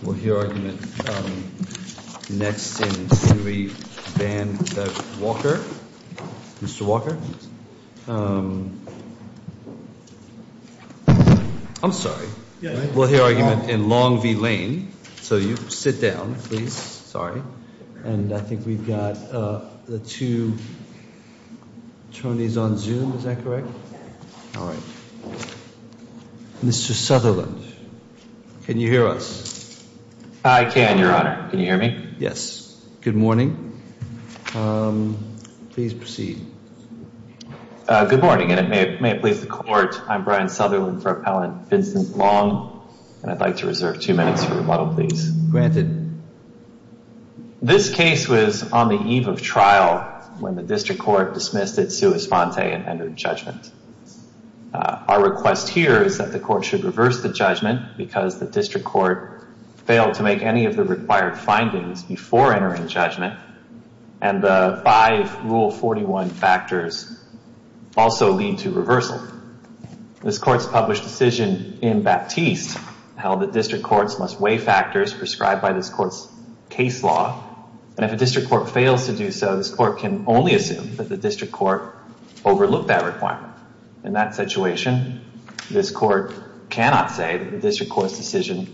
We'll hear argument next in Sury Van Walker. Mr. Walker? I'm sorry. We'll hear argument in Long v. Lain. So you sit down, please. Sorry. And I think we've got the two attorneys on Zoom. Is that correct? All right. Mr. Sutherland, can you hear us? I can, Your Honor. Can you hear me? Yes. Good morning. Please proceed. Good morning, and it may please the Court. I'm Brian Sutherland for Appellant Vincent Long, and I'd like to reserve two minutes for rebuttal, please. Granted. This case was on the eve of trial when the District Court dismissed it sua sponte and entered judgment. Our request here is that the Court should reverse the judgment because the District Court failed to make any of the required findings before entering judgment, and the five Rule 41 factors also lead to reversal. This Court's published decision in Baptiste held that District Courts must weigh factors prescribed by this Court's case law, and if a District Court fails to do so, this Court can only assume that the District Court overlooked that requirement. In that situation, this Court cannot say that the District Court's decision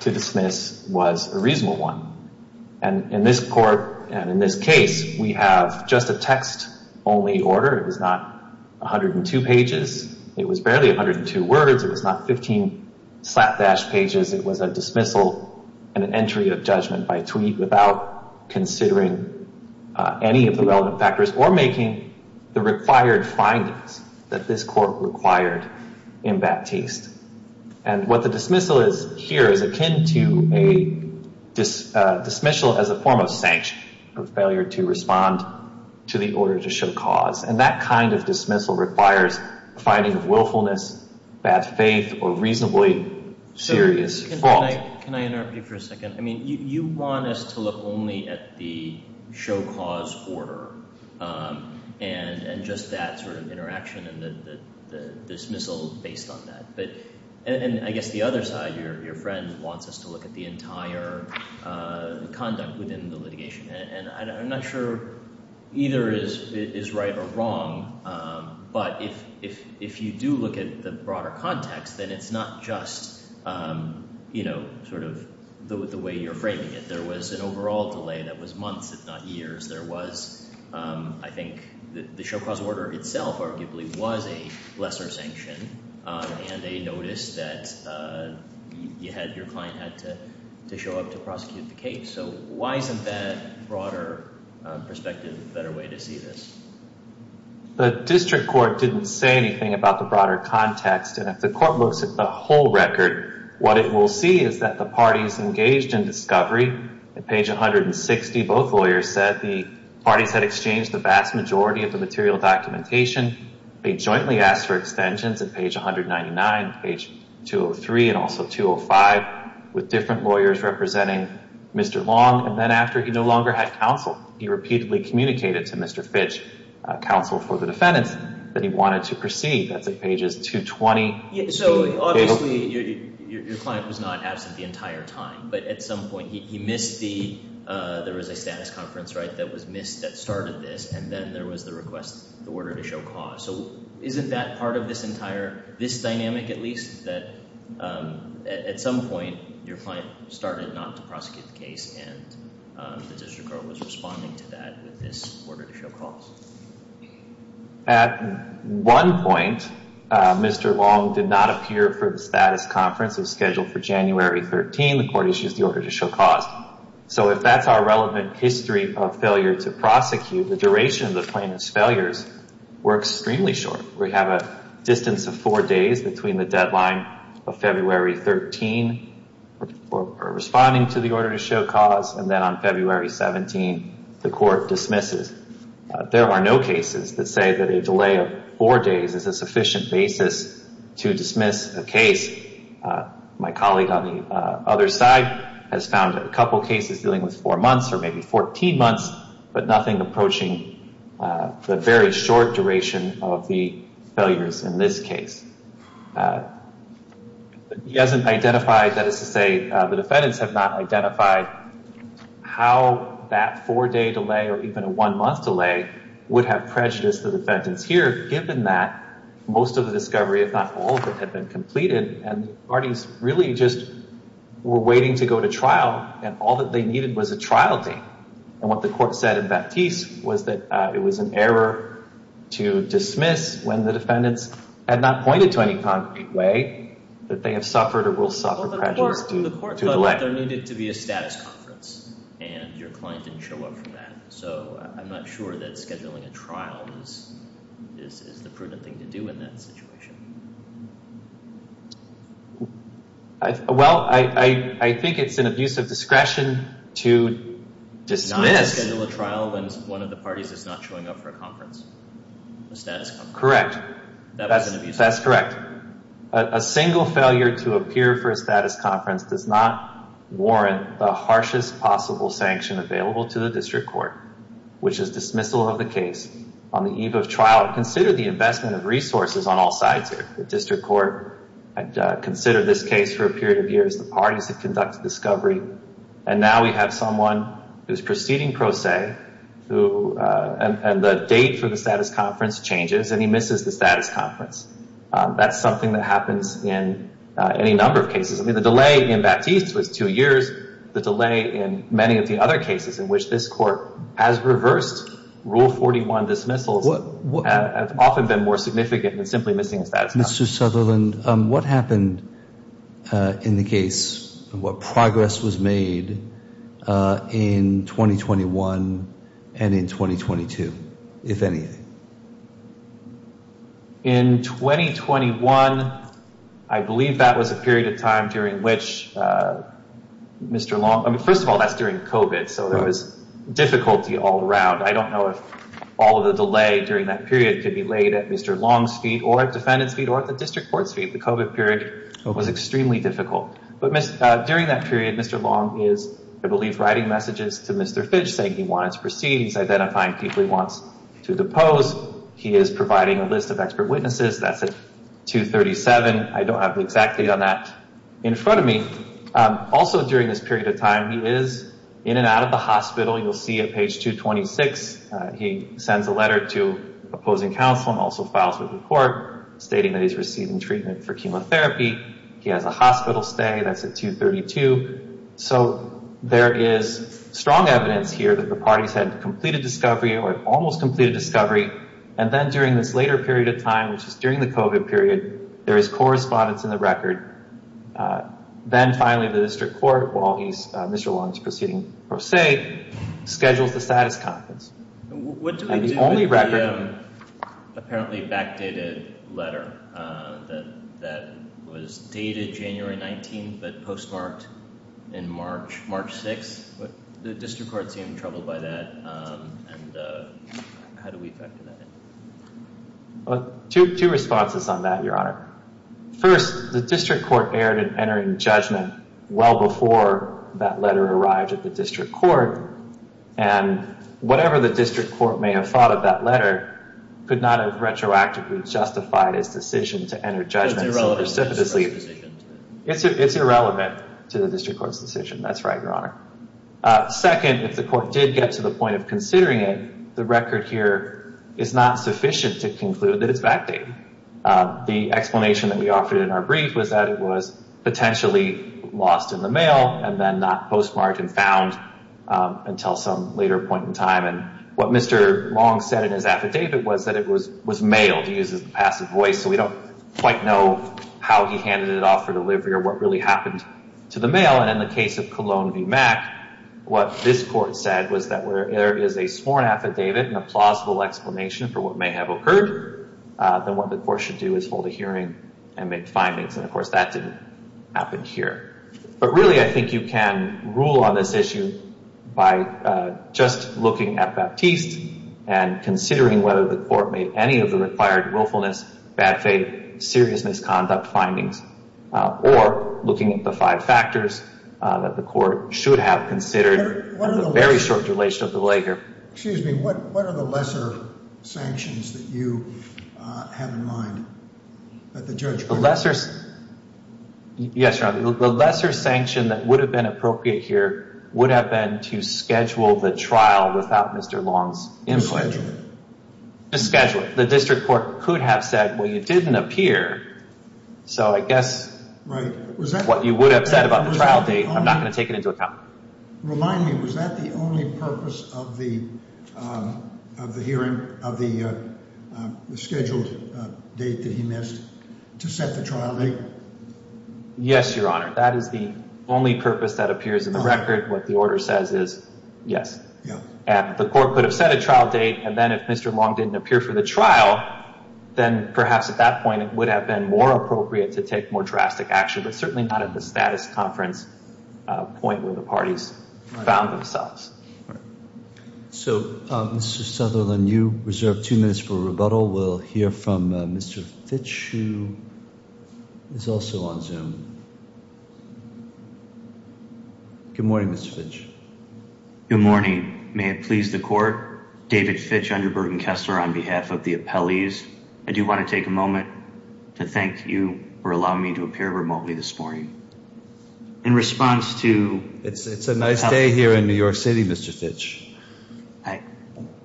to dismiss was a reasonable one, and in this Court and in this case, we have just a text-only order. It was not 102 pages. It was barely 102 words. It was not 15 slapdash pages. It was a dismissal and an entry of judgment by tweet without considering any of the relevant factors or making the required findings that this Court required in Baptiste. And what the dismissal is here is akin to a dismissal as a form of sanction for failure to respond to the order to show cause, and that kind of dismissal requires a finding of willfulness, bad faith, or reasonably serious fault. Can I interrupt you for a second? I mean, you want us to look only at the show cause order and just that sort of interaction and the dismissal based on that. And I guess the other side, your friend wants us to look at the entire conduct within the litigation, and I'm not sure either is right or wrong, but if you do look at the broader context, then it's not just sort of the way you're framing it. There was an overall delay that was months, if not years. There was, I think, the show cause order itself arguably was a lesser sanction and a notice that your client had to show up to prosecute the case. So why isn't that broader perspective a better way to see this? The District Court didn't say anything about the broader context, and if the Court looks at the whole record, what it will see is that the parties engaged in discovery. At page 160, both lawyers said the parties had exchanged the vast majority of the material documentation. They jointly asked for extensions at page 199, page 203, and also 205 with different lawyers representing Mr. Long. And then after he no longer had counsel, he repeatedly communicated to Mr. Fitch, counsel for the defendants, that he wanted to proceed. That's at pages 220. So obviously your client was not absent the entire time, but at some point he missed the – there was a status conference, right, that was missed that started this, and then there was the request, the order to show cause. So isn't that part of this entire – this dynamic at least, that at some point your client started not to prosecute the case and the District Court was responding to that with this order to show cause? At one point, Mr. Long did not appear for the status conference. It was scheduled for January 13. The Court issued the order to show cause. So if that's our relevant history of failure to prosecute, the duration of the plaintiff's failures were extremely short. We have a distance of four days between the deadline of February 13 for responding to the order to show cause, and then on February 17, the Court dismisses. There are no cases that say that a delay of four days is a sufficient basis to dismiss a case. My colleague on the other side has found a couple cases dealing with four months or maybe 14 months, but nothing approaching the very short duration of the failures in this case. He hasn't identified – that is to say, the defendants have not identified how that four-day delay or even a one-month delay would have prejudiced the defendants here, given that most of the discovery, if not all of it, had been completed, and the parties really just were waiting to go to trial, and all that they needed was a trial date. And what the Court said in Baptiste was that it was an error to dismiss when the defendants had not pointed to any concrete way that they have suffered or will suffer prejudice to delay. Well, the Court thought that there needed to be a status conference, and your client didn't show up for that. So I'm not sure that scheduling a trial is the prudent thing to do in that situation. Well, I think it's an abuse of discretion to dismiss. Not to schedule a trial when one of the parties is not showing up for a conference, a status conference. Correct. That's correct. A single failure to appear for a status conference does not warrant the harshest possible sanction available to the District Court, which is dismissal of the case on the eve of trial. Consider the investment of resources on all sides here. The District Court had considered this case for a period of years. The parties had conducted discovery, and now we have someone who's proceeding pro se, and the date for the status conference changes, and he misses the status conference. That's something that happens in any number of cases. I mean, the delay in Baptiste was two years. The delay in many of the other cases in which this Court has reversed Rule 41 dismissals has often been more significant than simply missing the status conference. Mr. Sutherland, what happened in the case, and what progress was made in 2021 and in 2022, if anything? In 2021, I believe that was a period of time during which Mr. Long... I mean, first of all, that's during COVID, so there was difficulty all around. I don't know if all of the delay during that period could be laid at Mr. Long's feet or at defendant's feet or at the District Court's feet. The COVID period was extremely difficult. During that period, Mr. Long is, I believe, writing messages to Mr. Fitch, saying he wanted to proceed. He's identifying people he wants to depose. He is providing a list of expert witnesses. That's at 237. I don't have the exact date on that in front of me. Also, during this period of time, he is in and out of the hospital. You'll see at page 226, he sends a letter to opposing counsel and also files a report stating that he's receiving treatment for chemotherapy. He has a hospital stay. That's at 232. So, there is strong evidence here that the parties had completed discovery or almost completed discovery. And then, during this later period of time, which is during the COVID period, there is correspondence in the record. Then, finally, the District Court, while Mr. Long is proceeding, per se, schedules the status conference. What do we do with the apparently backdated letter that was dated January 19 but postmarked in March 6? The District Court seemed troubled by that. And how do we factor that in? Two responses on that, Your Honor. First, the District Court erred in entering judgment well before that letter arrived at the District Court. And whatever the District Court may have thought of that letter could not have retroactively justified its decision to enter judgment so precipitously. It's irrelevant to the District Court's decision. That's right, Your Honor. Second, if the Court did get to the point of considering it, the record here is not sufficient to conclude that it's backdated. The explanation that we offered in our brief was that it was potentially lost in the mail and then not postmarked and found until some later point in time. And what Mr. Long said in his affidavit was that it was mailed. He uses a passive voice, so we don't quite know how he handed it off for delivery or what really happened to the mail. And in the case of Cologne v. Mack, what this Court said was that there is a sworn affidavit and a plausible explanation for what may have occurred. Then what the Court should do is hold a hearing and make findings. And, of course, that didn't happen here. But really, I think you can rule on this issue by just looking at Baptiste and considering whether the Court made any of the required willfulness, bad faith, serious misconduct findings, or looking at the five factors that the Court should have considered in the very short duration of the lay here. Excuse me, what are the lesser sanctions that you have in mind that the judge put in place? Yes, Your Honor. The lesser sanction that would have been appropriate here would have been to schedule the trial without Mr. Long's input. To schedule it? To schedule it. The district court could have said, well, you didn't appear, so I guess what you would have said about the trial date, I'm not going to take it into account. Remind me, was that the only purpose of the hearing, of the scheduled date that he missed, to set the trial date? Yes, Your Honor. That is the only purpose that appears in the record. What the order says is yes. And the Court could have set a trial date, and then if Mr. Long didn't appear for the trial, then perhaps at that point it would have been more appropriate to take more drastic action, but certainly not at the status conference point where the parties found themselves. So, Mr. Sutherland, you reserve two minutes for rebuttal. We'll hear from Mr. Fitch, who is also on Zoom. Good morning, Mr. Fitch. Good morning. May it please the Court, David Fitch, Underburton Kessler, on behalf of the appellees, I do want to take a moment to thank you for allowing me to appear remotely this morning. In response to— It's a nice day here in New York City, Mr. Fitch.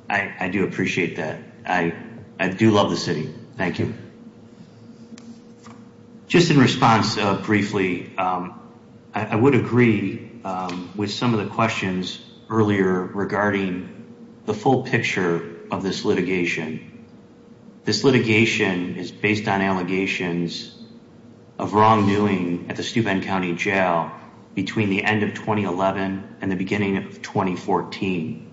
I do appreciate that. I do love the city. Thank you. Just in response, briefly, I would agree with some of the questions earlier regarding the full picture of this litigation. This litigation is based on allegations of wrongdoing at the Steuben County Jail between the end of 2011 and the beginning of 2014.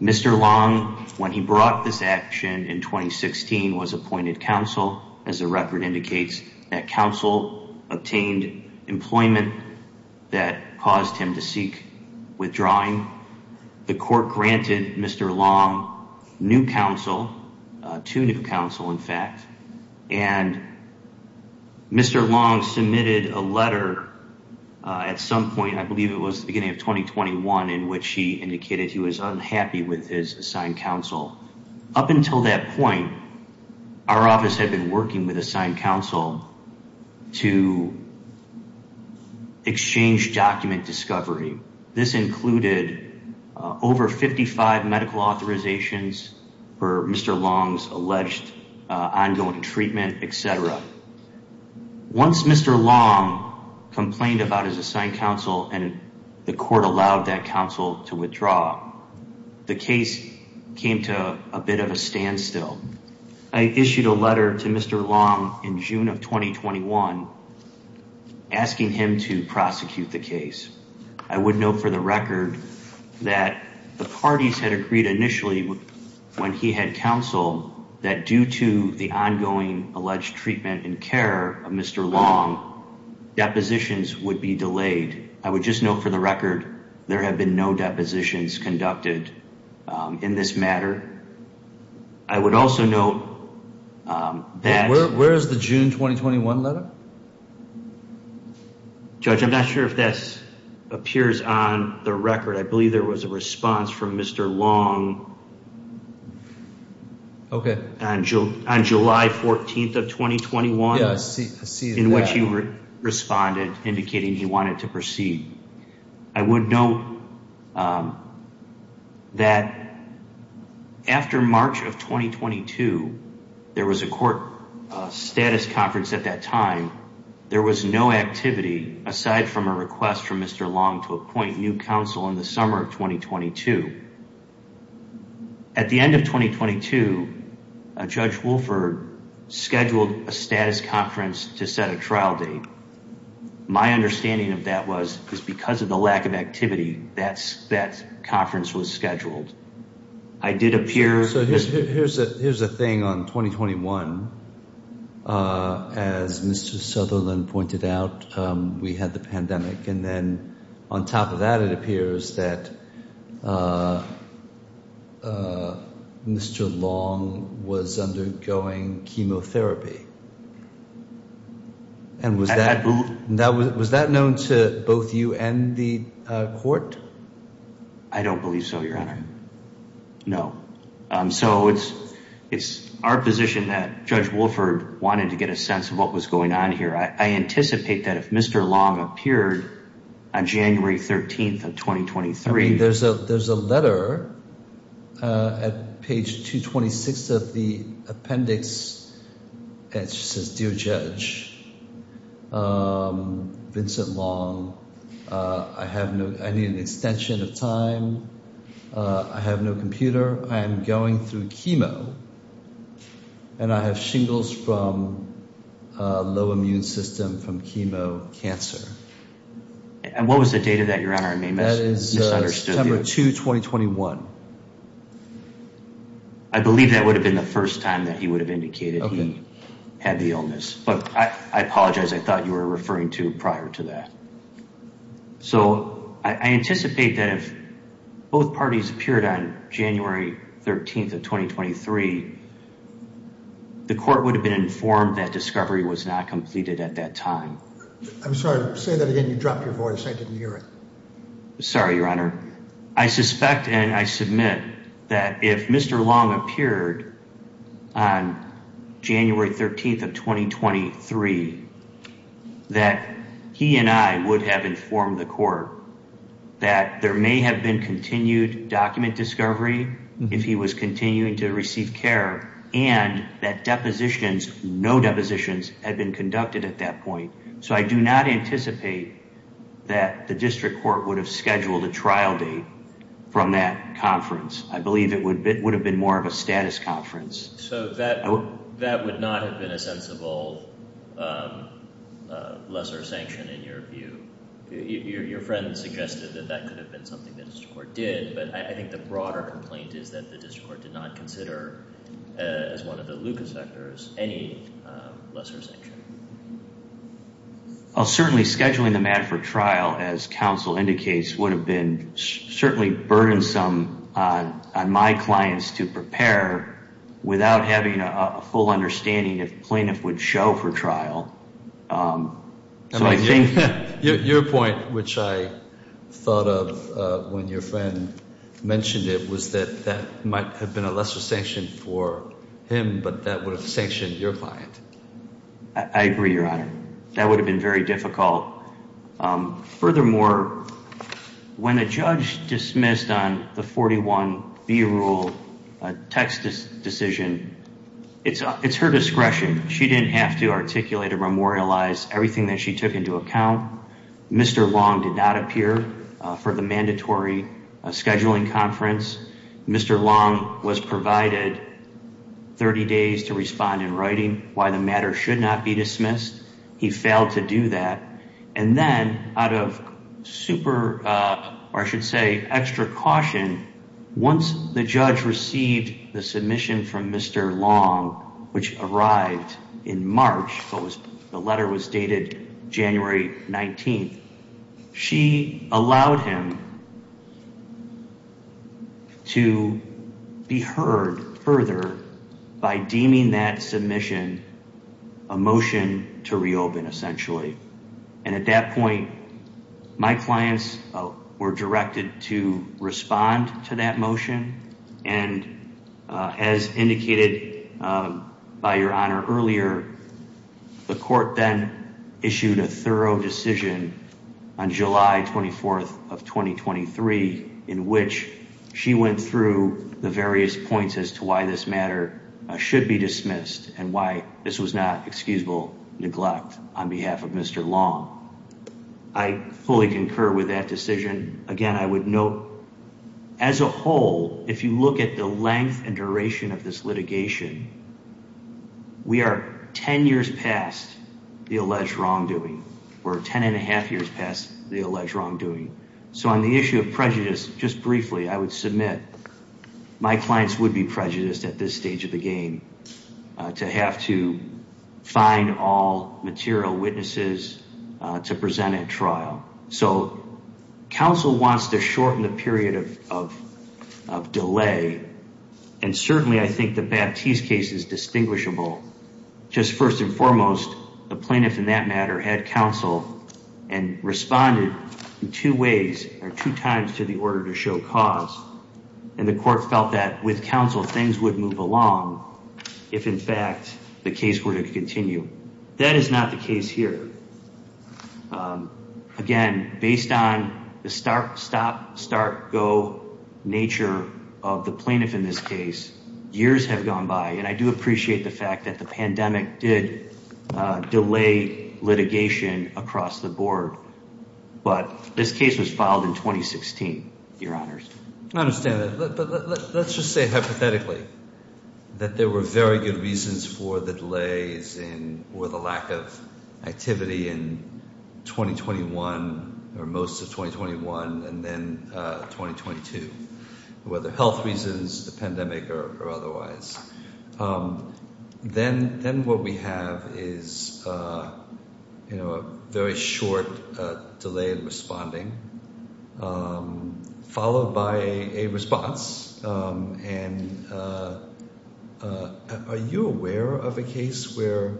Mr. Long, when he brought this action in 2016, was appointed counsel, as the record indicates that counsel obtained employment that caused him to seek withdrawing. The court granted Mr. Long new counsel, two new counsel, in fact, and Mr. Long submitted a letter at some point, I believe it was the beginning of 2021, in which he indicated he was unhappy with his assigned counsel. Up until that point, our office had been working with assigned counsel to exchange document discovery. This included over 55 medical authorizations for Mr. Long's alleged ongoing treatment, etc. Once Mr. Long complained about his assigned counsel and the court allowed that counsel to withdraw, the case came to a bit of a standstill. I issued a letter to Mr. Long in June of 2021 asking him to prosecute the case. I would note for the record that the parties had agreed initially, when he had counsel, that due to the ongoing alleged treatment and care of Mr. Long, depositions would be delayed. I would just note for the record, there have been no depositions conducted in this matter. I would also note that... Where is the June 2021 letter? Judge, I'm not sure if this appears on the record. I believe there was a response from Mr. Long on July 14th of 2021, in which he responded indicating he wanted to proceed. I would note that after March of 2022, there was a court status conference at that time. There was no activity aside from a request from Mr. Long to appoint new counsel in the summer of 2022. At the end of 2022, Judge Wolford scheduled a status conference to set a trial date. My understanding of that was because of the lack of activity, that conference was scheduled. Here's the thing on 2021. As Mr. Sutherland pointed out, we had the pandemic. And then on top of that, it appears that Mr. Long was undergoing chemotherapy. And was that known to both you and the court? I don't believe so, Your Honor. No. So it's our position that Judge Wolford wanted to get a sense of what was going on here. I anticipate that if Mr. Long appeared on January 13th of 2023... There's a letter at page 226 of the appendix that says, Dear Judge, Vincent Long, I need an extension of time. I have no computer. I am going through chemo. And I have shingles from a low immune system from chemo cancer. And what was the date of that, Your Honor? I may have misunderstood you. That is September 2, 2021. I believe that would have been the first time that he would have indicated he had the illness. But I apologize. I thought you were referring to prior to that. So I anticipate that if both parties appeared on January 13th of 2023, the court would have been informed that discovery was not completed at that time. I'm sorry. Say that again. You dropped your voice. I didn't hear it. Sorry, Your Honor. I suspect and I submit that if Mr. Long appeared on January 13th of 2023, that he and I would have informed the court that there may have been continued document discovery if he was continuing to receive care and that depositions, no depositions, had been conducted at that point. So I do not anticipate that the district court would have scheduled a trial date from that conference. I believe it would have been more of a status conference. So that would not have been a sensible lesser sanction in your view. Your friend suggested that that could have been something that the district court did. But I think the broader complaint is that the district court did not consider as one of the LUCA sectors any lesser sanction. Certainly scheduling the mat for trial, as counsel indicates, would have been certainly burdensome on my clients to prepare without having a full understanding if plaintiff would show for trial. Your point, which I thought of when your friend mentioned it, was that that might have been a lesser sanction for him, but that would have sanctioned your client. I agree, Your Honor. That would have been very difficult. Furthermore, when a judge dismissed on the 41B rule text decision, it's her discretion. She didn't have to articulate or memorialize everything that she took into account. Mr. Long did not appear for the mandatory scheduling conference. Mr. Long was provided 30 days to respond in writing why the matter should not be dismissed. He failed to do that. And then, out of extra caution, once the judge received the submission from Mr. Long, which arrived in March, the letter was dated January 19th, she allowed him to be heard further by deeming that submission a motion to reopen, essentially. And at that point, my clients were directed to respond to that motion. And as indicated by Your Honor earlier, the court then issued a thorough decision on July 24th of 2023, in which she went through the various points as to why this matter should be dismissed and why this was not excusable neglect on behalf of Mr. Long. I fully concur with that decision. Again, I would note, as a whole, if you look at the length and duration of this litigation, we are 10 years past the alleged wrongdoing. We're 10 and a half years past the alleged wrongdoing. So on the issue of prejudice, just briefly, I would submit, my clients would be prejudiced at this stage of the game to have to find all material witnesses to present at trial. So counsel wants to shorten the period of delay. And certainly, I think the Baptiste case is distinguishable. Just first and foremost, the plaintiff in that matter had counsel and responded in two ways or two times to the order to show cause. And the court felt that with counsel, things would move along if, in fact, the case were to continue. That is not the case here. Again, based on the start, stop, start, go nature of the plaintiff in this case, years have gone by. And I do appreciate the fact that the pandemic did delay litigation across the board. But this case was filed in 2016, Your Honors. I understand that. But let's just say hypothetically that there were very good reasons for the delays and for the lack of activity in 2021 or most of 2021 and then 2022. Whether health reasons, the pandemic or otherwise. Then what we have is a very short delay in responding, followed by a response. And are you aware of a case where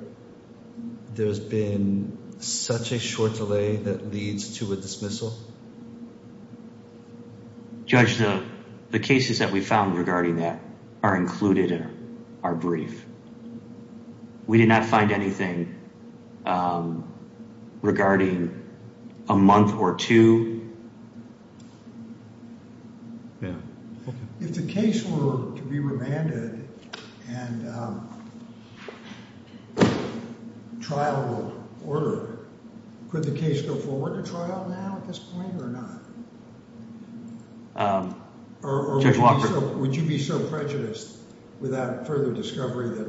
there's been such a short delay that leads to a dismissal? Judge, the cases that we found regarding that are included in our brief. We did not find anything regarding a month or two. Yeah. If the case were to be remanded and trial order, could the case go forward to trial now at this point or not? Or would you be so prejudiced without further discovery that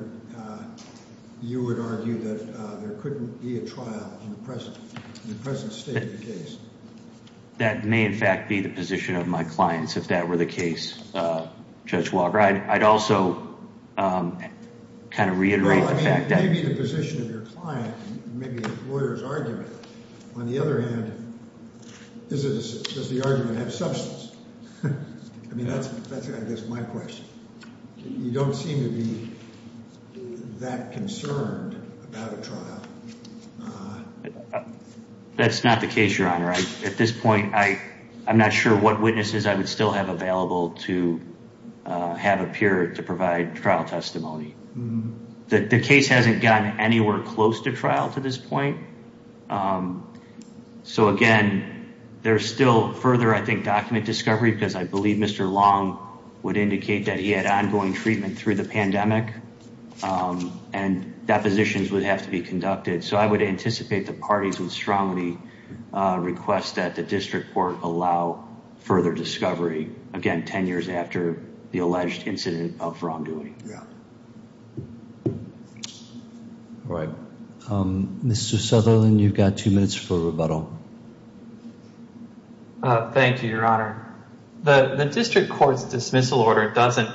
you would argue that there couldn't be a trial in the present state of the case? That may, in fact, be the position of my clients if that were the case, Judge Walker. I'd also kind of reiterate the fact that. That may be the position of your client, maybe the lawyer's argument. On the other hand, does the argument have substance? I mean, that's I guess my question. You don't seem to be that concerned about a trial. That's not the case, Your Honor. At this point, I'm not sure what witnesses I would still have available to have appear to provide trial testimony. The case hasn't gotten anywhere close to trial to this point. So, again, there's still further, I think, document discovery because I believe Mr. Long would indicate that he had ongoing treatment through the pandemic. And depositions would have to be conducted. So I would anticipate the parties would strongly request that the district court allow further discovery. Again, 10 years after the alleged incident of wrongdoing. Mr. Sutherland, you've got two minutes for rebuttal. Thank you, Your Honor. The district court's dismissal order doesn't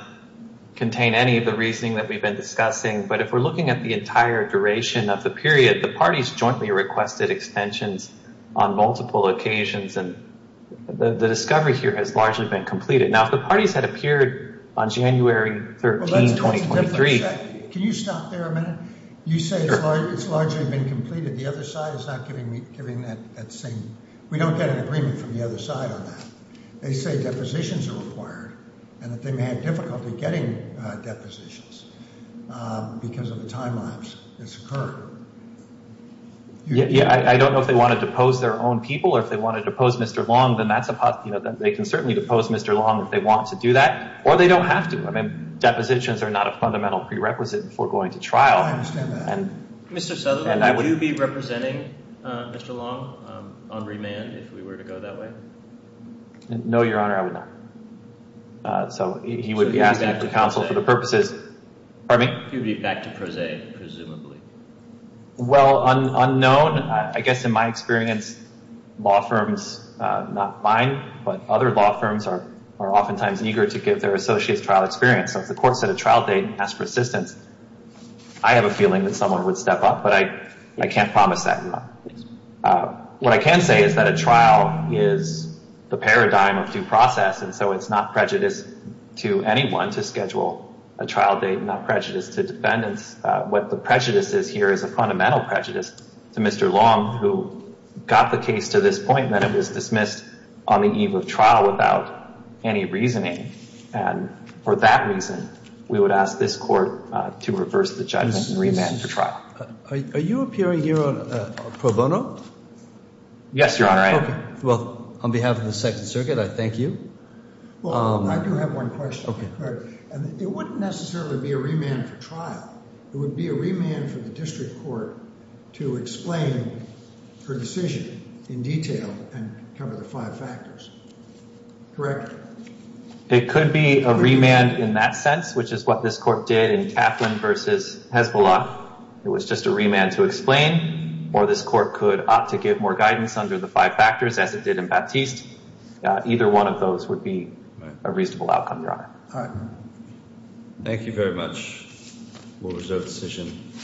contain any of the reasoning that we've been discussing. But if we're looking at the entire duration of the period, the parties jointly requested extensions on multiple occasions. And the discovery here has largely been completed. Now, if the parties had appeared on January 13, 2023. Can you stop there a minute? You say it's largely been completed. The other side is not giving that same. We don't get an agreement from the other side on that. They say depositions are required and that they may have difficulty getting depositions because of the time lapse that's occurred. Yeah, I don't know if they want to depose their own people or if they want to depose Mr. Long, then that's a possibility. They can certainly depose Mr. Long if they want to do that or they don't have to. I mean, depositions are not a fundamental prerequisite for going to trial. I understand that. Mr. Southerland, would you be representing Mr. Long on remand if we were to go that way? No, Your Honor, I would not. So he would be asking for counsel for the purposes. He would be back to prosaic, presumably. Well, unknown. I guess in my experience, law firms, not mine, but other law firms are oftentimes eager to give their associates trial experience. So if the court set a trial date and asked for assistance, I have a feeling that someone would step up. But I can't promise that, Your Honor. What I can say is that a trial is the paradigm of due process. And so it's not prejudice to anyone to schedule a trial date, not prejudice to defendants. What the prejudice is here is a fundamental prejudice to Mr. Long, who got the case to this point and then it was dismissed on the eve of trial without any reasoning. And for that reason, we would ask this court to reverse the judgment and remand for trial. Are you appearing here on pro bono? Yes, Your Honor, I am. Well, on behalf of the Second Circuit, I thank you. Well, I do have one question. It wouldn't necessarily be a remand for trial. It would be a remand for the district court to explain her decision in detail and cover the five factors. Correct? It could be a remand in that sense, which is what this court did in Kaplan v. Hezbollah. It was just a remand to explain. Or this court could opt to give more guidance under the five factors as it did in Baptiste. Either one of those would be a reasonable outcome, Your Honor. All right. Thank you very much. We'll reserve the decision.